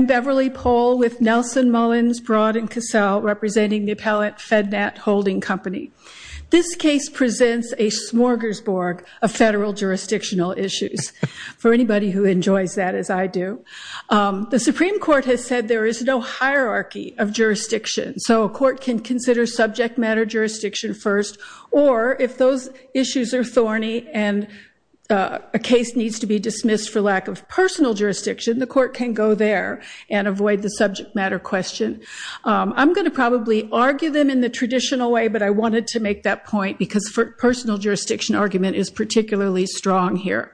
Beverly Pohl, Nelson Mullins Broad & Cassell, Appellate, FedNat Holding Company This case presents a smorgasbord of federal jurisdictional issues. The Supreme Court has said there is no hierarchy of jurisdiction, so a court can consider subject matter jurisdiction first, or if those issues are thorny and a case needs to be dismissed for lack of personal jurisdiction, the court can go there and avoid the subject matter question. I'm going to probably argue them in the traditional way, but I wanted to make that point because personal jurisdiction argument is particularly strong here.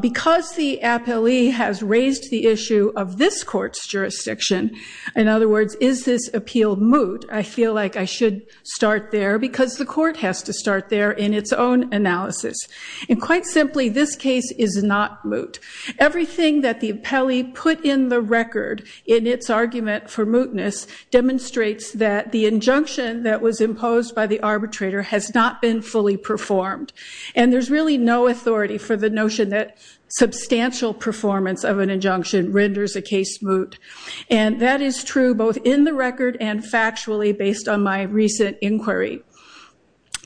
Because the appellee has raised the issue of this court's jurisdiction, in other words, is this appeal moot, I feel like I should start there because the court has to start there in its own analysis. And quite simply, this case is not moot. Everything that the appellee put in the record in its argument for mootness demonstrates that the injunction that was imposed by the arbitrator has not been fully performed. And there's really no authority for the notion that substantial performance of an injunction renders a case moot. And that is true both in the record and factually based on my recent inquiry.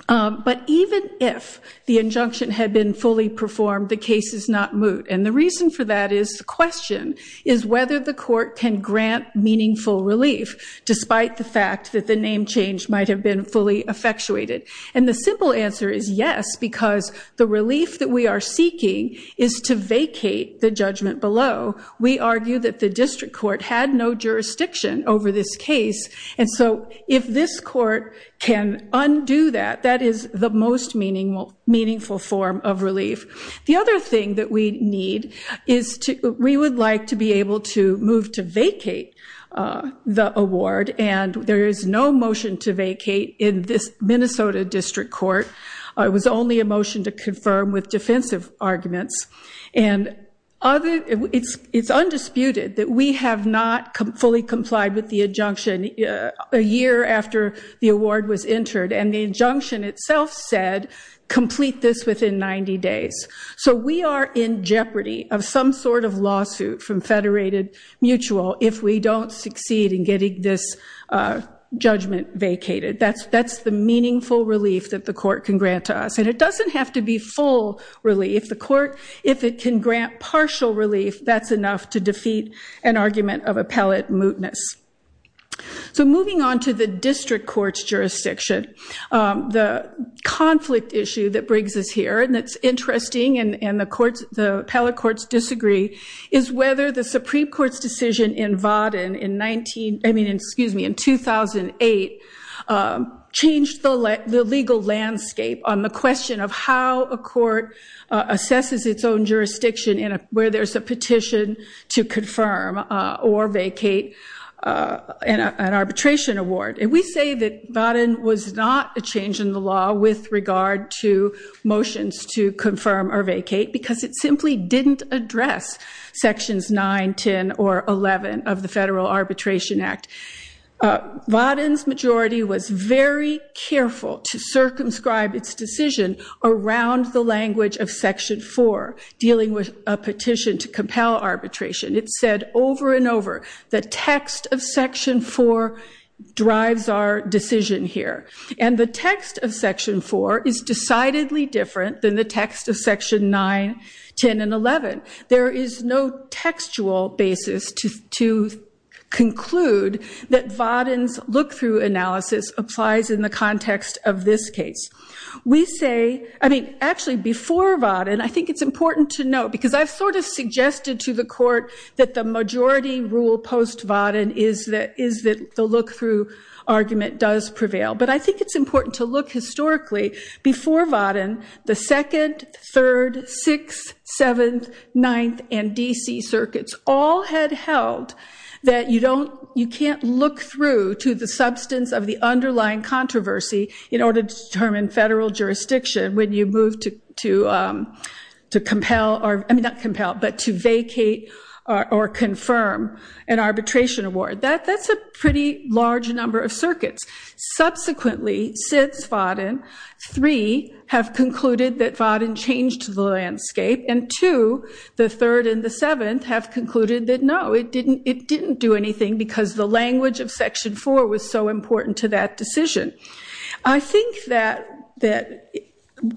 But even if the injunction had been fully performed, the case is not moot. And the reason for that is the question is whether the court can grant meaningful relief, despite the fact that the name change might have been fully effectuated. And the simple answer is yes, because the relief that we are seeking is to vacate the judgment below. We argue that the district court had no jurisdiction over this case. And so if this court can undo that, that is the most meaningful form of relief. The other thing that we need is we would like to be able to move to vacate the award. And there is no motion to vacate in this Minnesota district court. It was only a motion to confirm with defensive arguments. And it's undisputed that we have not fully complied with the injunction a year after the award was entered. And the injunction itself said complete this within 90 days. So we are in jeopardy of some sort of lawsuit from Federated Mutual if we don't succeed in getting this judgment vacated. That's the meaningful relief that the court can grant to us. And it doesn't have to be full relief. The court, if it can grant partial relief, that's enough to defeat an argument of appellate mootness. So moving on to the district court's jurisdiction, the conflict issue that brings us here, and it's interesting and the appellate courts disagree, is whether the Supreme Court's decision in Vauden in 2008 changed the legal landscape on the question of how a court assesses its own jurisdiction where there's a petition to confirm or vacate an arbitration award. And we say that Vauden was not a change in the law with regard to motions to confirm or vacate because it simply didn't address sections 9, 10, or 11 of the Federal Arbitration Act. Vauden's majority was very careful to circumscribe its decision around the language of Section 4, dealing with a petition to compel arbitration. It said over and over, the text of Section 4 drives our decision here. And the text of Section 4 is decidedly different than the text of Section 9, 10, and 11. There is no textual basis to conclude that Vauden's look-through analysis applies in the context of this case. We say, I mean, actually before Vauden, I think it's important to note, because I've sort of suggested to the court that the majority rule post-Vauden is that the look-through argument does prevail. But I think it's important to look historically before Vauden, the 2nd, 3rd, 6th, 7th, 9th, and D.C. circuits all had held that you can't look through to the substance of the underlying controversy in order to determine federal jurisdiction when you move to vacate or confirm an arbitration award. That's a pretty large number of circuits. Subsequently, since Vauden, 3 have concluded that Vauden changed the landscape, and 2, the 3rd, and the 7th have concluded that no, it didn't do anything because the language of Section 4 was so important to that decision. I think that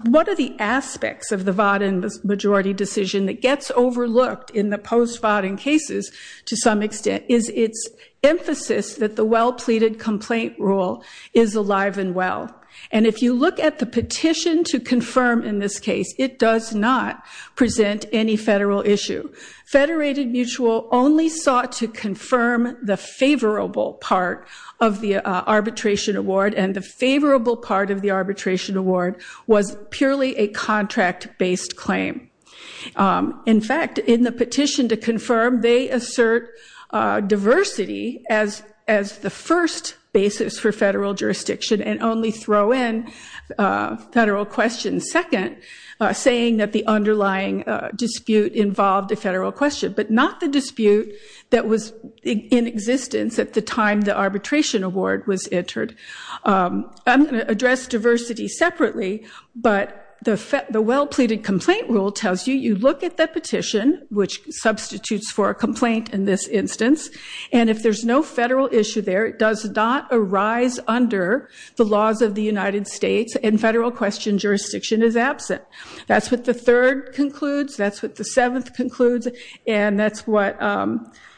one of the aspects of the Vauden majority decision that gets overlooked in the post-Vauden cases to some extent is its emphasis that the well-pleaded complaint rule is alive and well. And if you look at the petition to confirm in this case, it does not present any federal issue. Federated Mutual only sought to confirm the favorable part of the arbitration award, and the favorable part of the arbitration award was purely a contract-based claim. In fact, in the petition to confirm, they assert diversity as the first basis for federal jurisdiction and only throw in federal questions second, saying that the underlying dispute involved a federal question, but not the dispute that was in existence at the time the arbitration award was entered. I'm going to address diversity separately, but the well-pleaded complaint rule tells you, you look at the petition, which substitutes for a complaint in this instance, and if there's no federal issue there, it does not arise under the laws of the United States, and federal question jurisdiction is absent. That's what the 3rd concludes, that's what the 7th concludes, and that's what the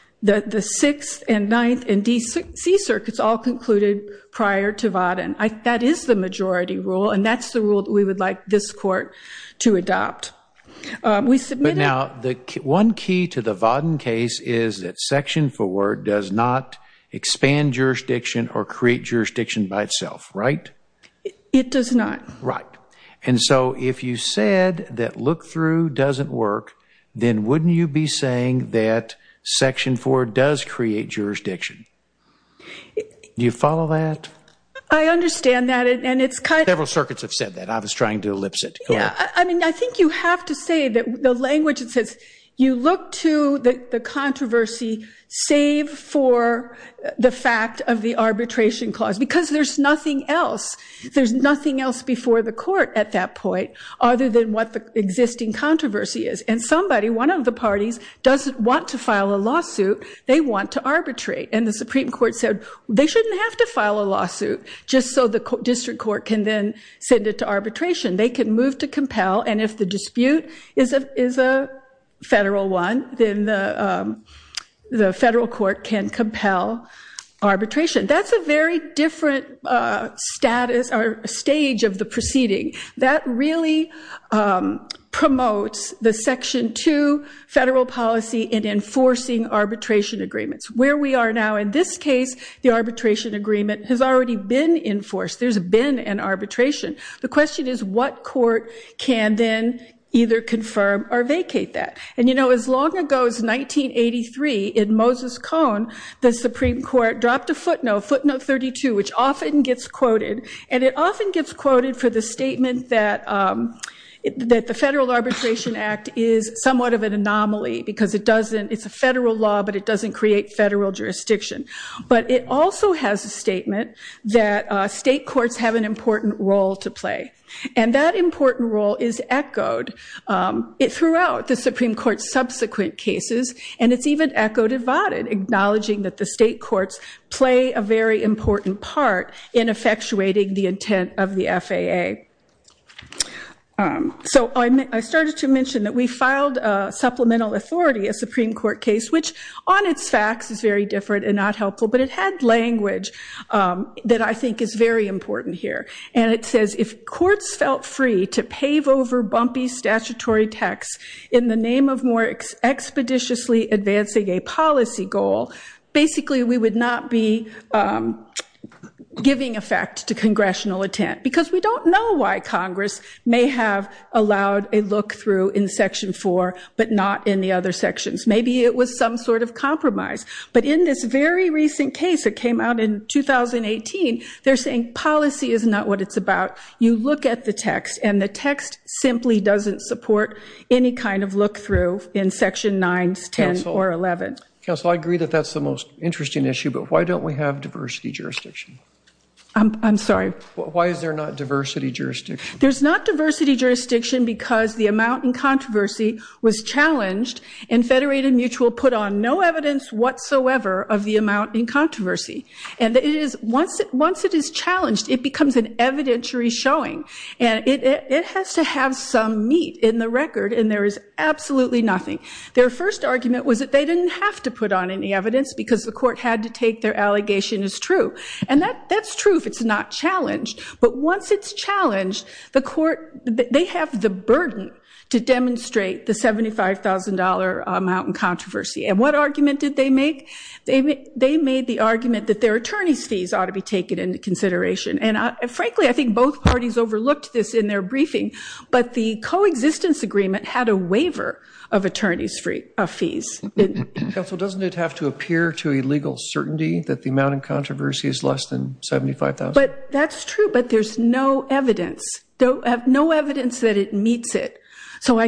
6th and 9th and D-C circuits all concluded prior to Vodden. That is the majority rule, and that's the rule that we would like this court to adopt. We submitted- But now, one key to the Vodden case is that Section 4 does not expand jurisdiction or create jurisdiction by itself, right? It does not. Right. And so, if you said that look-through doesn't work, then wouldn't you be saying that Section 4 does create jurisdiction? Do you follow that? I understand that, and it's kind of- Several circuits have said that. I was trying to elipse it. Yeah, I mean, I think you have to say that the language that says, you look to the controversy, save for the fact of the arbitration clause, because there's nothing else. There's nothing else before the court at that point, other than what the existing controversy is. And somebody, one of the parties, doesn't want to file a lawsuit. They want to arbitrate. And the Supreme Court said, they shouldn't have to file a lawsuit, just so the district court can then send it to arbitration. They can move to compel, and if the dispute is a federal one, then the federal court can compel arbitration. That's a very different status or stage of the proceeding. That really promotes the Section 2 federal policy in enforcing arbitration agreements. Where we are now in this case, the arbitration agreement has already been enforced. There's been an arbitration. The question is what court can then either confirm or vacate that. And, you know, as long ago as 1983, in Moses Cone, the Supreme Court dropped a footnote, footnote 32, which often gets quoted. And it often gets quoted for the statement that the Federal Arbitration Act is somewhat of an anomaly, because it's a federal law, but it doesn't create federal jurisdiction. But it also has a statement that state courts have an important role to play. And that important role is echoed throughout the Supreme Court's subsequent cases, and it's even echoed at Votted, acknowledging that the state courts play a very important part in effectuating the intent of the FAA. So I started to mention that we filed supplemental authority, a Supreme Court case, which on its facts is very different and not helpful, but it had language that I think is very important here. And it says, if courts felt free to pave over bumpy statutory text in the name of more expeditiously advancing a policy goal, basically we would not be giving effect to congressional intent. Because we don't know why Congress may have allowed a look-through in Section 4, but not in the other sections. Maybe it was some sort of compromise. But in this very recent case that came out in 2018, they're saying policy is not what it's about. You look at the text, and the text simply doesn't support any kind of look-through in Section 9, 10, or 11. Counsel, I agree that that's the most interesting issue, but why don't we have diversity jurisdiction? I'm sorry? Why is there not diversity jurisdiction? There's not diversity jurisdiction because the amount in controversy was challenged, Once it is challenged, it becomes an evidentiary showing. And it has to have some meat in the record, and there is absolutely nothing. Their first argument was that they didn't have to put on any evidence because the court had to take their allegation as true. And that's true if it's not challenged. But once it's challenged, they have the burden to demonstrate the $75,000 amount in controversy. And what argument did they make? They made the argument that their attorney's fees ought to be taken into consideration. And, frankly, I think both parties overlooked this in their briefing, but the coexistence agreement had a waiver of attorney's fees. Counsel, doesn't it have to appear to a legal certainty that the amount in controversy is less than $75,000? But that's true, but there's no evidence, no evidence that it meets it. So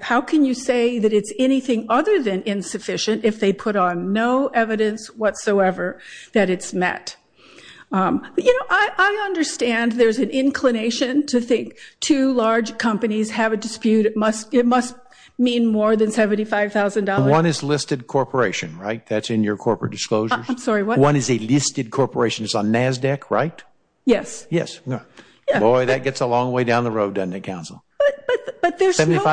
how can you say that it's anything other than insufficient if they put on no evidence whatsoever that it's met? You know, I understand there's an inclination to think two large companies have a dispute. It must mean more than $75,000. One is listed corporation, right? That's in your corporate disclosures. I'm sorry, what? One is a listed corporation. It's on NASDAQ, right? Yes. Yes. Boy, that gets a long way down the road, doesn't it, Counsel? But there's no evidence.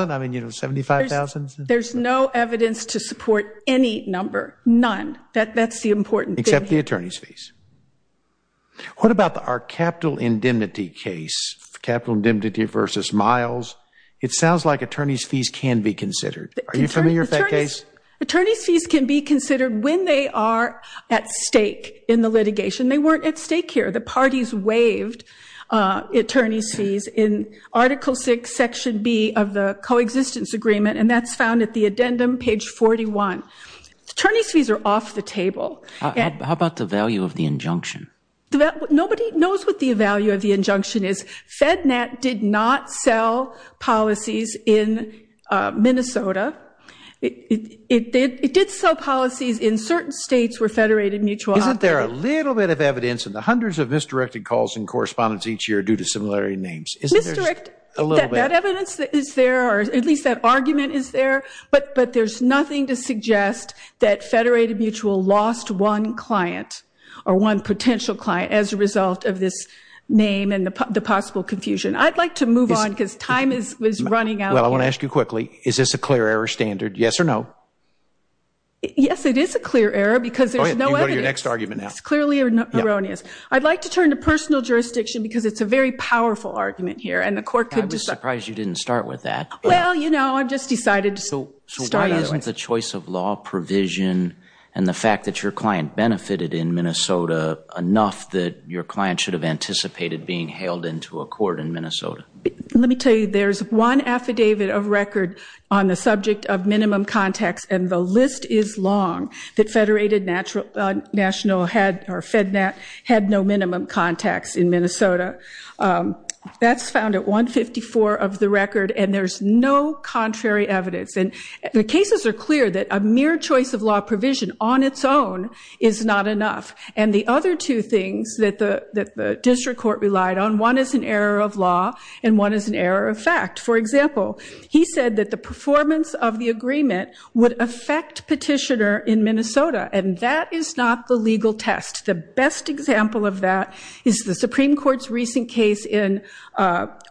$75,000? I mean, you know, $75,000? There's no evidence to support any number, none. That's the important thing. Except the attorney's fees. What about our capital indemnity case, capital indemnity versus miles? It sounds like attorney's fees can be considered. Are you familiar with that case? Attorney's fees can be considered when they are at stake in the litigation. They weren't at stake here. The parties waived attorney's fees in Article VI, Section B of the Coexistence Agreement, and that's found at the addendum, page 41. Attorney's fees are off the table. How about the value of the injunction? Nobody knows what the value of the injunction is. FedNet did not sell policies in Minnesota. Isn't there a little bit of evidence in the hundreds of misdirected calls and correspondence each year due to similarity names? Misdirect? A little bit. That evidence is there, or at least that argument is there, but there's nothing to suggest that Federated Mutual lost one client or one potential client as a result of this name and the possible confusion. I'd like to move on because time is running out. Well, I want to ask you quickly, is this a clear error standard, yes or no? Yes, it is a clear error because there's no evidence. You can go to your next argument now. It's clearly erroneous. I'd like to turn to personal jurisdiction because it's a very powerful argument here and the court could decide. I was surprised you didn't start with that. Well, you know, I just decided to start anyway. So why isn't the choice of law provision and the fact that your client benefited in Minnesota enough that your client should have anticipated being hailed into a court in Minnesota? Let me tell you, there's one affidavit of record on the subject of minimum context, and the list is long, that Federated National had no minimum context in Minnesota. That's found at 154 of the record, and there's no contrary evidence. And the cases are clear that a mere choice of law provision on its own is not enough. And the other two things that the district court relied on, one is an error of law and one is an error of fact. For example, he said that the performance of the agreement would affect petitioner in Minnesota, and that is not the legal test. The best example of that is the Supreme Court's recent case in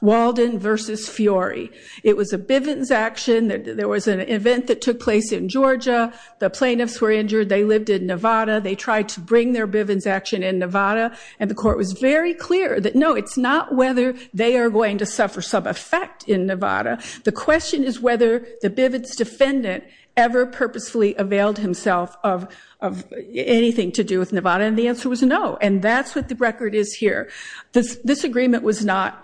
Walden v. Fiori. It was a Bivens action. There was an event that took place in Georgia. The plaintiffs were injured. They lived in Nevada. They tried to bring their Bivens action in Nevada. And the court was very clear that, no, it's not whether they are going to suffer some effect in Nevada. The question is whether the Bivens defendant ever purposefully availed himself of anything to do with Nevada, and the answer was no, and that's what the record is here. This agreement was not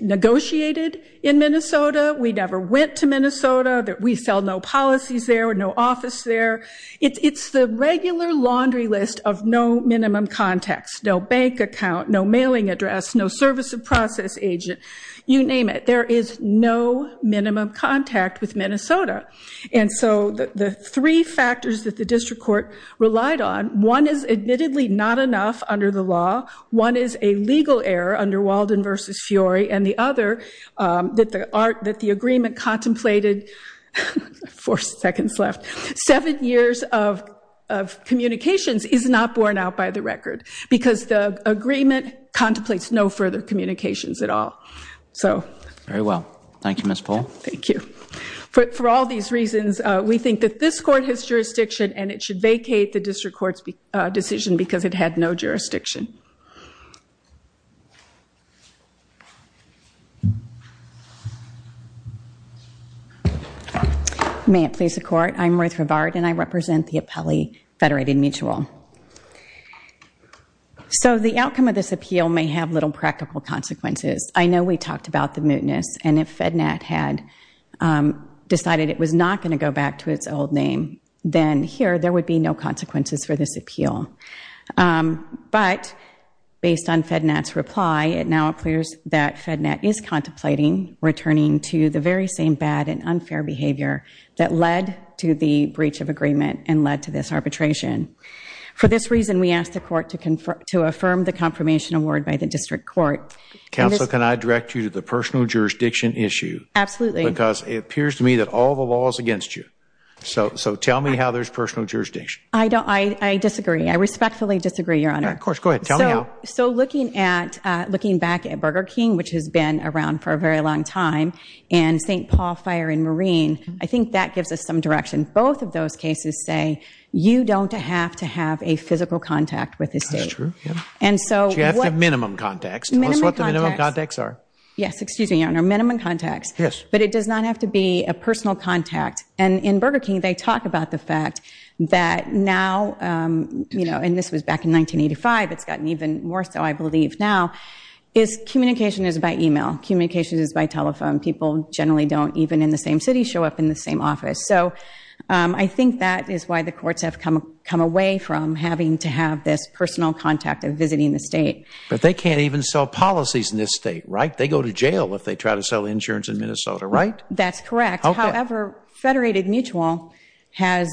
negotiated in Minnesota. We never went to Minnesota. We sell no policies there, no office there. It's the regular laundry list of no minimum contacts, no bank account, no mailing address, no service of process agent, you name it. There is no minimum contact with Minnesota. And so the three factors that the district court relied on, one is admittedly not enough under the law, one is a legal error under Walden v. Fiori, and the other that the agreement contemplated seven years of communications is not borne out by the record because the agreement contemplates no further communications at all. Very well. Thank you, Ms. Pohl. Thank you. For all these reasons, we think that this court has jurisdiction and it should vacate the district court's decision because it had no jurisdiction. May it please the court. I'm Ruth Rivard, and I represent the Appellee Federated Mutual. So the outcome of this appeal may have little practical consequences. I know we talked about the mootness, and if FEDNAT had decided it was not going to go back to its old name, then here there would be no consequences for this appeal. But based on FEDNAT's reply, it now appears that FEDNAT is contemplating returning to the very same bad and unfair behavior that led to the breach of agreement and led to this arbitration. For this reason, we ask the court to affirm the confirmation award by the district court. Counsel, can I direct you to the personal jurisdiction issue? Absolutely. Because it appears to me that all the law is against you. So tell me how there's personal jurisdiction. I disagree. I respectfully disagree, Your Honor. Of course. Go ahead. Tell me how. So looking back at Burger King, which has been around for a very long time, and St. Paul Fire and Marine, I think that gives us some direction. Both of those cases say you don't have to have a physical contact with the state. That's true. Do you have to have minimum contacts? Minimum contacts. Tell us what the minimum contacts are. Yes, excuse me, Your Honor. Minimum contacts. Yes. But it does not have to be a personal contact. And in Burger King, they talk about the fact that now, you know, and this was back in 1985, it's gotten even more so, I believe, now, is communication is by e-mail. Communication is by telephone. People generally don't, even in the same city, show up in the same office. So I think that is why the courts have come away from having to have this personal contact of visiting the state. But they can't even sell policies in this state, right? They go to jail if they try to sell insurance in Minnesota, right? That's correct. However, Federated Mutual has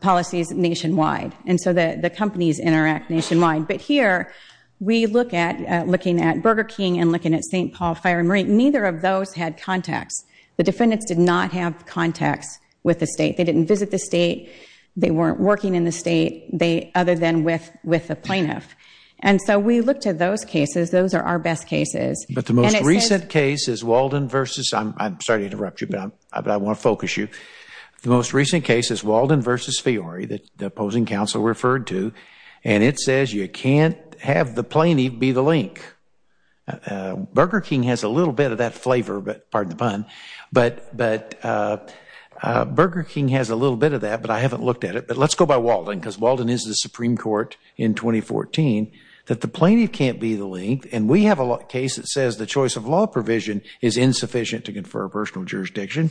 policies nationwide, and so the companies interact nationwide. But here, we look at looking at Burger King and looking at St. Paul Fire and Marine, neither of those had contacts. The defendants did not have contacts with the state. They didn't visit the state. They weren't working in the state other than with a plaintiff. And so we looked at those cases. Those are our best cases. But the most recent case is Walden versus – I'm sorry to interrupt you, but I want to focus you. The most recent case is Walden versus Fiori, the opposing counsel referred to, and it says you can't have the plaintiff be the link. Burger King has a little bit of that flavor, pardon the pun, but Burger King has a little bit of that, but I haven't looked at it. But let's go by Walden because Walden is the Supreme Court in 2014, that the plaintiff can't be the link. And we have a case that says the choice of law provision is insufficient to confer personal jurisdiction.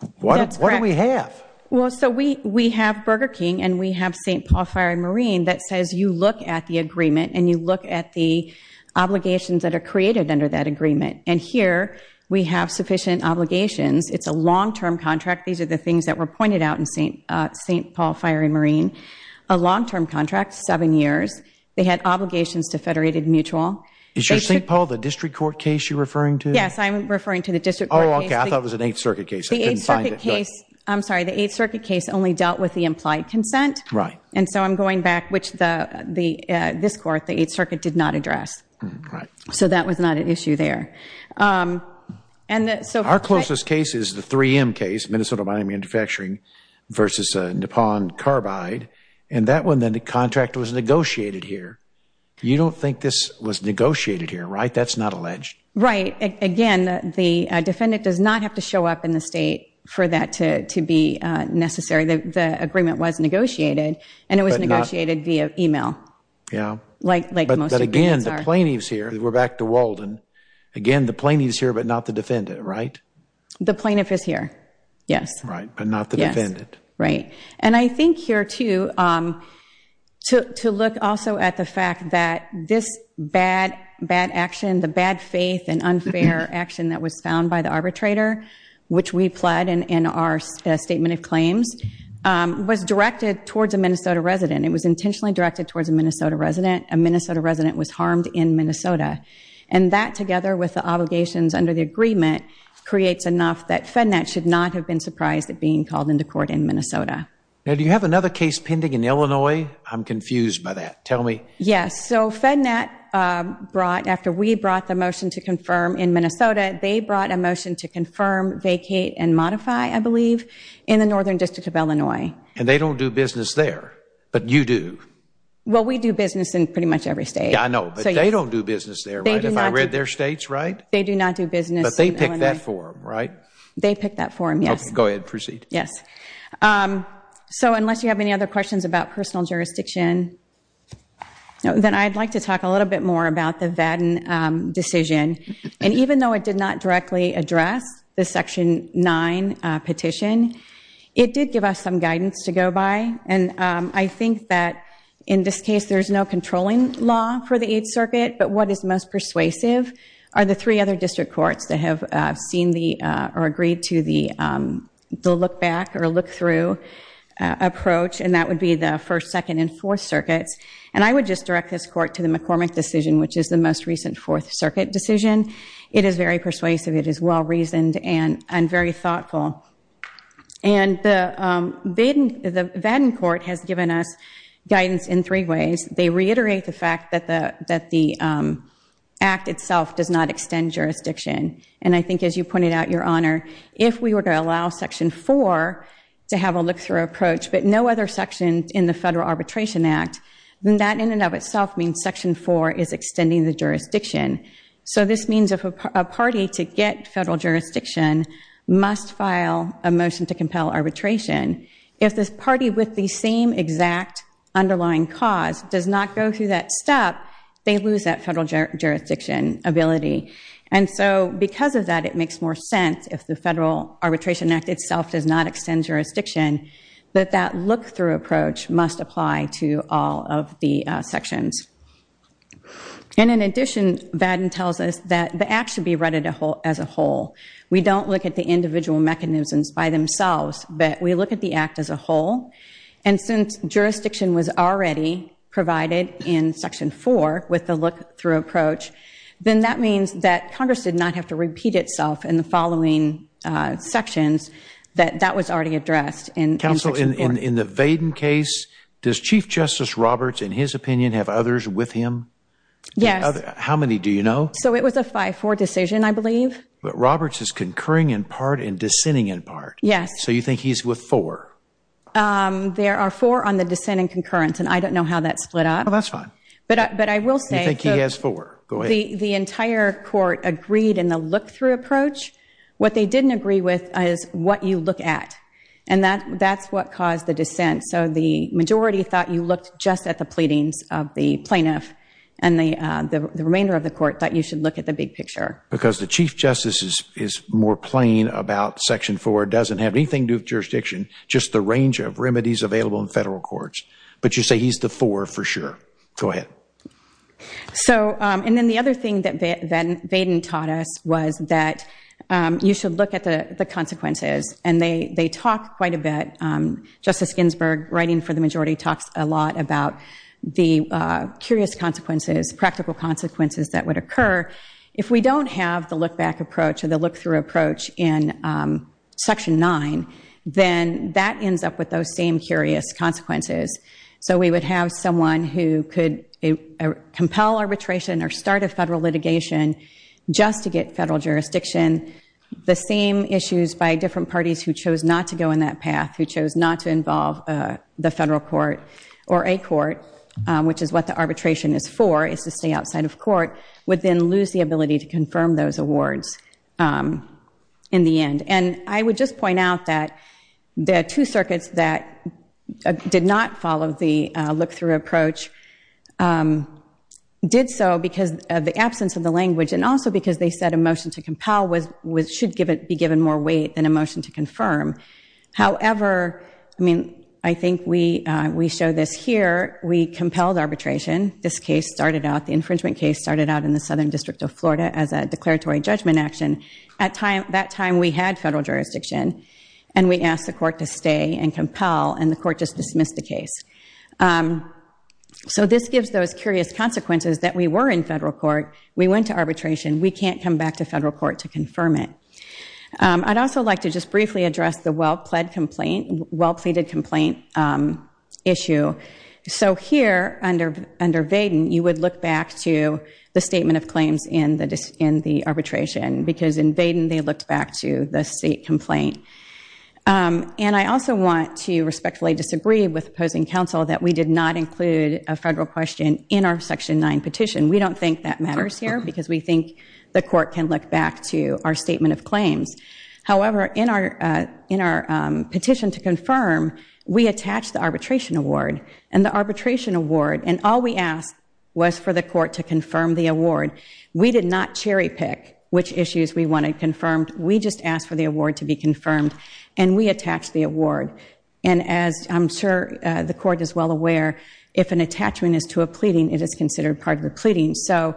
That's correct. What do we have? Well, so we have Burger King and we have St. Paul Fire and Marine that says you look at the agreement and you look at the obligations that are created under that agreement. And here we have sufficient obligations. It's a long-term contract. These are the things that were pointed out in St. Paul Fire and Marine. A long-term contract, seven years. They had obligations to Federated Mutual. Is your St. Paul the district court case you're referring to? Yes, I'm referring to the district court case. Oh, okay. I thought it was an Eighth Circuit case. I couldn't find it. The Eighth Circuit case, I'm sorry, the Eighth Circuit case only dealt with the implied consent. Right. And so I'm going back, which this court, the Eighth Circuit, did not address. Right. So that was not an issue there. Our closest case is the 3M case, Minnesota Mine and Manufacturing versus Nippon Carbide. And that one, the contract was negotiated here. You don't think this was negotiated here, right? That's not alleged. Right. Again, the defendant does not have to show up in the state for that to be necessary. The agreement was negotiated, and it was negotiated via email. Yeah. But again, the plaintiff's here. We're back to Walden. Again, the plaintiff's here, but not the defendant, right? The plaintiff is here, yes. Right, but not the defendant. Right. And I think here, too, to look also at the fact that this bad action, the bad faith and unfair action that was found by the arbitrator, which we pled in our statement of claims, was directed towards a Minnesota resident. It was intentionally directed towards a Minnesota resident. A Minnesota resident was harmed in Minnesota. And that, together with the obligations under the agreement, creates enough that FedNet should not have been surprised at being called into court in Minnesota. Now, do you have another case pending in Illinois? I'm confused by that. Tell me. Yes. So FedNet brought, after we brought the motion to confirm in Minnesota, they brought a motion to confirm, vacate, and modify, I believe, in the Northern District of Illinois. And they don't do business there, but you do. Well, we do business in pretty much every state. Yeah, I know. But they don't do business there, right? They do not. If I read their states right? They do not do business in Illinois. But they picked that for them, right? They picked that for them, yes. Okay. Go ahead and proceed. Yes. So unless you have any other questions about personal jurisdiction, then I'd like to talk a little bit more about the Vadin decision. And even though it did not directly address the Section 9 petition, it did give us some guidance to go by. And I think that, in this case, there's no controlling law for the Eighth Circuit, but what is most persuasive are the three other district courts that have seen or agreed to the look-back or look-through approach, and that would be the First, Second, and Fourth Circuits. And I would just direct this court to the McCormick decision, which is the most recent Fourth Circuit decision. It is very persuasive. It is well-reasoned and very thoughtful. And the Vadin court has given us guidance in three ways. They reiterate the fact that the Act itself does not extend jurisdiction. And I think, as you pointed out, Your Honor, if we were to allow Section 4 to have a look-through approach, but no other section in the Federal Arbitration Act, then that, in and of itself, means Section 4 is extending the jurisdiction. So this means if a party to get federal jurisdiction must file a motion to compel arbitration, if this party with the same exact underlying cause does not go through that step, they lose that federal jurisdiction ability. And so because of that, it makes more sense, if the Federal Arbitration Act itself does not extend jurisdiction, that that look-through approach must apply to all of the sections. And in addition, Vadin tells us that the Act should be read as a whole. We don't look at the individual mechanisms by themselves, but we look at the Act as a whole. And since jurisdiction was already provided in Section 4 with the look-through approach, then that means that Congress did not have to repeat itself in the following sections that that was already addressed in Section 4. Counsel, in the Vadin case, does Chief Justice Roberts, in his opinion, have others with him? Yes. How many do you know? So it was a 5-4 decision, I believe. But Roberts is concurring in part and dissenting in part. Yes. So you think he's with four? There are four on the dissent and concurrence, and I don't know how that split up. Oh, that's fine. But I will say... You think he has four. Go ahead. So the entire court agreed in the look-through approach. What they didn't agree with is what you look at, and that's what caused the dissent. So the majority thought you looked just at the pleadings of the plaintiff, and the remainder of the court thought you should look at the big picture. Because the Chief Justice is more plain about Section 4, doesn't have anything to do with jurisdiction, just the range of remedies available in federal courts. But you say he's the four for sure. Go ahead. And then the other thing that Vaden taught us was that you should look at the consequences, and they talk quite a bit. Justice Ginsburg, writing for the majority, talks a lot about the curious consequences, practical consequences that would occur. If we don't have the look-back approach or the look-through approach in Section 9, then that ends up with those same curious consequences. So we would have someone who could compel arbitration or start a federal litigation just to get federal jurisdiction. The same issues by different parties who chose not to go in that path, who chose not to involve the federal court or a court, which is what the arbitration is for, is to stay outside of court, would then lose the ability to confirm those awards in the end. And I would just point out that the two circuits that did not follow the look-through approach did so because of the absence of the language and also because they said a motion to compel should be given more weight than a motion to confirm. However, I mean, I think we show this here. We compelled arbitration. This case started out, the infringement case started out in the Southern District of Florida as a declaratory judgment action. At that time, we had federal jurisdiction, and we asked the court to stay and compel, and the court just dismissed the case. So this gives those curious consequences that we were in federal court, we went to arbitration, we can't come back to federal court to confirm it. I'd also like to just briefly address the well-pleaded complaint issue. So here, under Vaden, you would look back to the statement of claims in the arbitration, because in Vaden, they looked back to the state complaint. And I also want to respectfully disagree with opposing counsel that we did not include a federal question in our Section 9 petition. We don't think that matters here because we think the court can look back to our statement of claims. However, in our petition to confirm, we attached the arbitration award, and the arbitration award, and all we asked was for the court to confirm the award. We did not cherry-pick which issues we wanted confirmed. We just asked for the award to be confirmed, and we attached the award. And as I'm sure the court is well aware, if an attachment is to a pleading, it is considered part of the pleading. So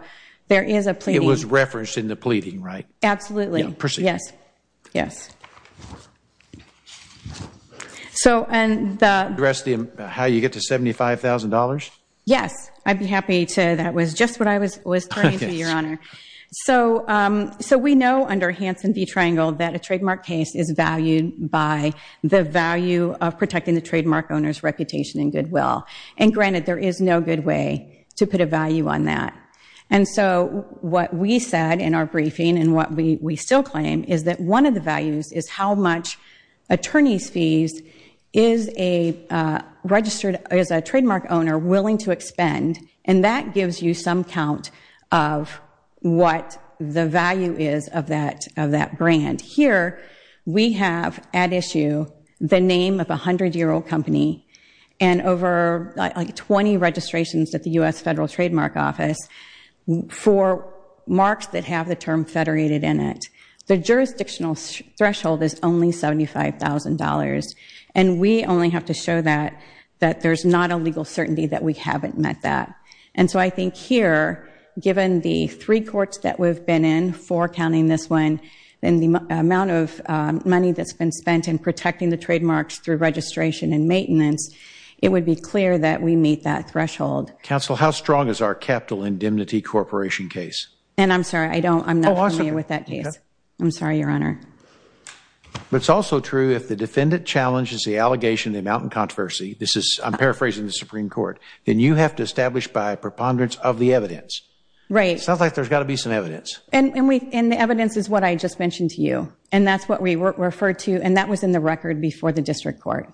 there is a pleading. It was referenced in the pleading, right? Absolutely. Proceed. Yes, yes. So, and the... How you get to $75,000? Yes, I'd be happy to. That was just what I was turning to, Your Honor. So we know under Hanson v. Triangle that a trademark case is valued by the value of protecting the trademark owner's reputation and goodwill. And granted, there is no good way to put a value on that. And so what we said in our briefing and what we still claim is that one of the values is how much attorney's fees is a trademark owner willing to expend, and that gives you some count of what the value is of that brand. Here we have at issue the name of a 100-year-old company and over, like, 20 registrations at the U.S. Federal Trademark Office for marks that have the term federated in it. The jurisdictional threshold is only $75,000, and we only have to show that there's not a legal certainty that we haven't met that. And so I think here, given the three courts that we've been in, four counting this one, and the amount of money that's been spent in protecting the trademarks through registration and maintenance, it would be clear that we meet that threshold. Counsel, how strong is our capital indemnity corporation case? And I'm sorry, I'm not familiar with that case. I'm sorry, Your Honor. But it's also true if the defendant challenges the allegation of the amount in controversy, I'm paraphrasing the Supreme Court, then you have to establish by a preponderance of the evidence. Right. It sounds like there's got to be some evidence. And the evidence is what I just mentioned to you, and that's what we referred to, and that was in the record before the district court.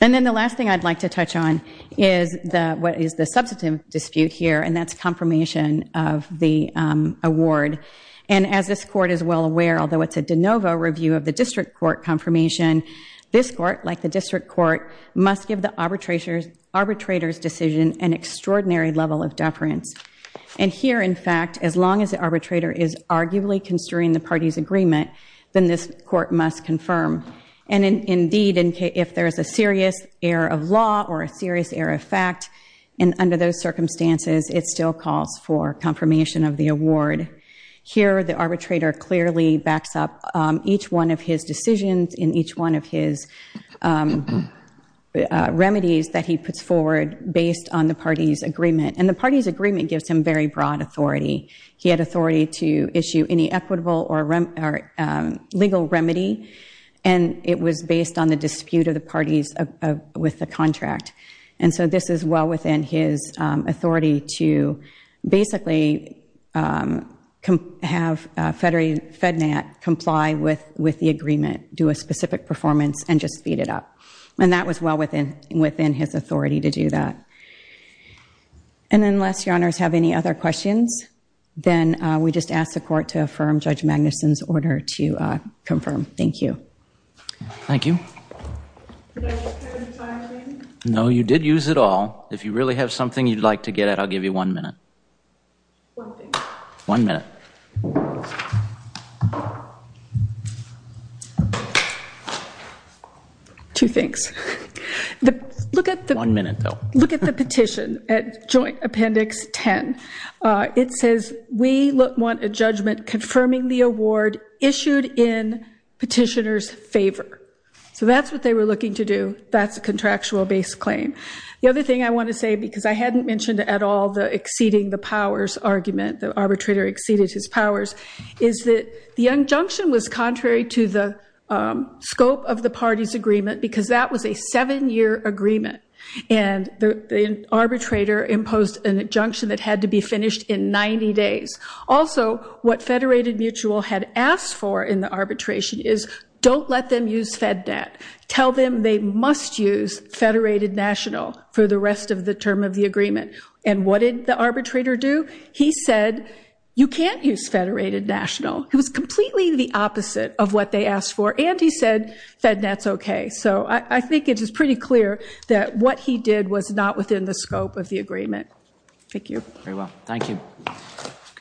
And then the last thing I'd like to touch on is what is the substantive dispute here, and that's confirmation of the award. And as this court is well aware, although it's a de novo review of the district court confirmation, this court, like the district court, must give the arbitrator's decision an extraordinary level of deference. And here, in fact, as long as the arbitrator is arguably construing the party's agreement, then this court must confirm. And indeed, if there is a serious error of law or a serious error of fact, and under those circumstances, it still calls for confirmation of the award. Here, the arbitrator clearly backs up each one of his decisions and each one of his remedies that he puts forward based on the party's agreement. And the party's agreement gives him very broad authority. He had authority to issue any equitable or legal remedy, and it was based on the dispute of the parties with the contract. And so this is well within his authority to basically have FEDNAT comply with the agreement, do a specific performance, and just speed it up. And that was well within his authority to do that. And unless your honors have any other questions, then we just ask the court to affirm Judge Magnuson's order to confirm. Thank you. Thank you. No, you did use it all. If you really have something you'd like to get at, I'll give you one minute. One minute. Two things. One minute, though. Look at the petition at Joint Appendix 10. It says, we want a judgment confirming the award issued in petitioner's favor. So that's what they were looking to do. That's a contractual-based claim. The other thing I want to say, because I hadn't mentioned at all the exceeding the powers argument, the arbitrator exceeded his powers, is that the injunction was contrary to the scope of the party's agreement because that was a seven-year agreement, and the arbitrator imposed an injunction that had to be finished in 90 days. Also, what Federated Mutual had asked for in the arbitration is, don't let them use FedNet. Tell them they must use Federated National for the rest of the term of the agreement. And what did the arbitrator do? He said, you can't use Federated National. It was completely the opposite of what they asked for, and he said FedNet's okay. So I think it is pretty clear that what he did was not within the scope of the agreement. Thank you. Very well. Thank you.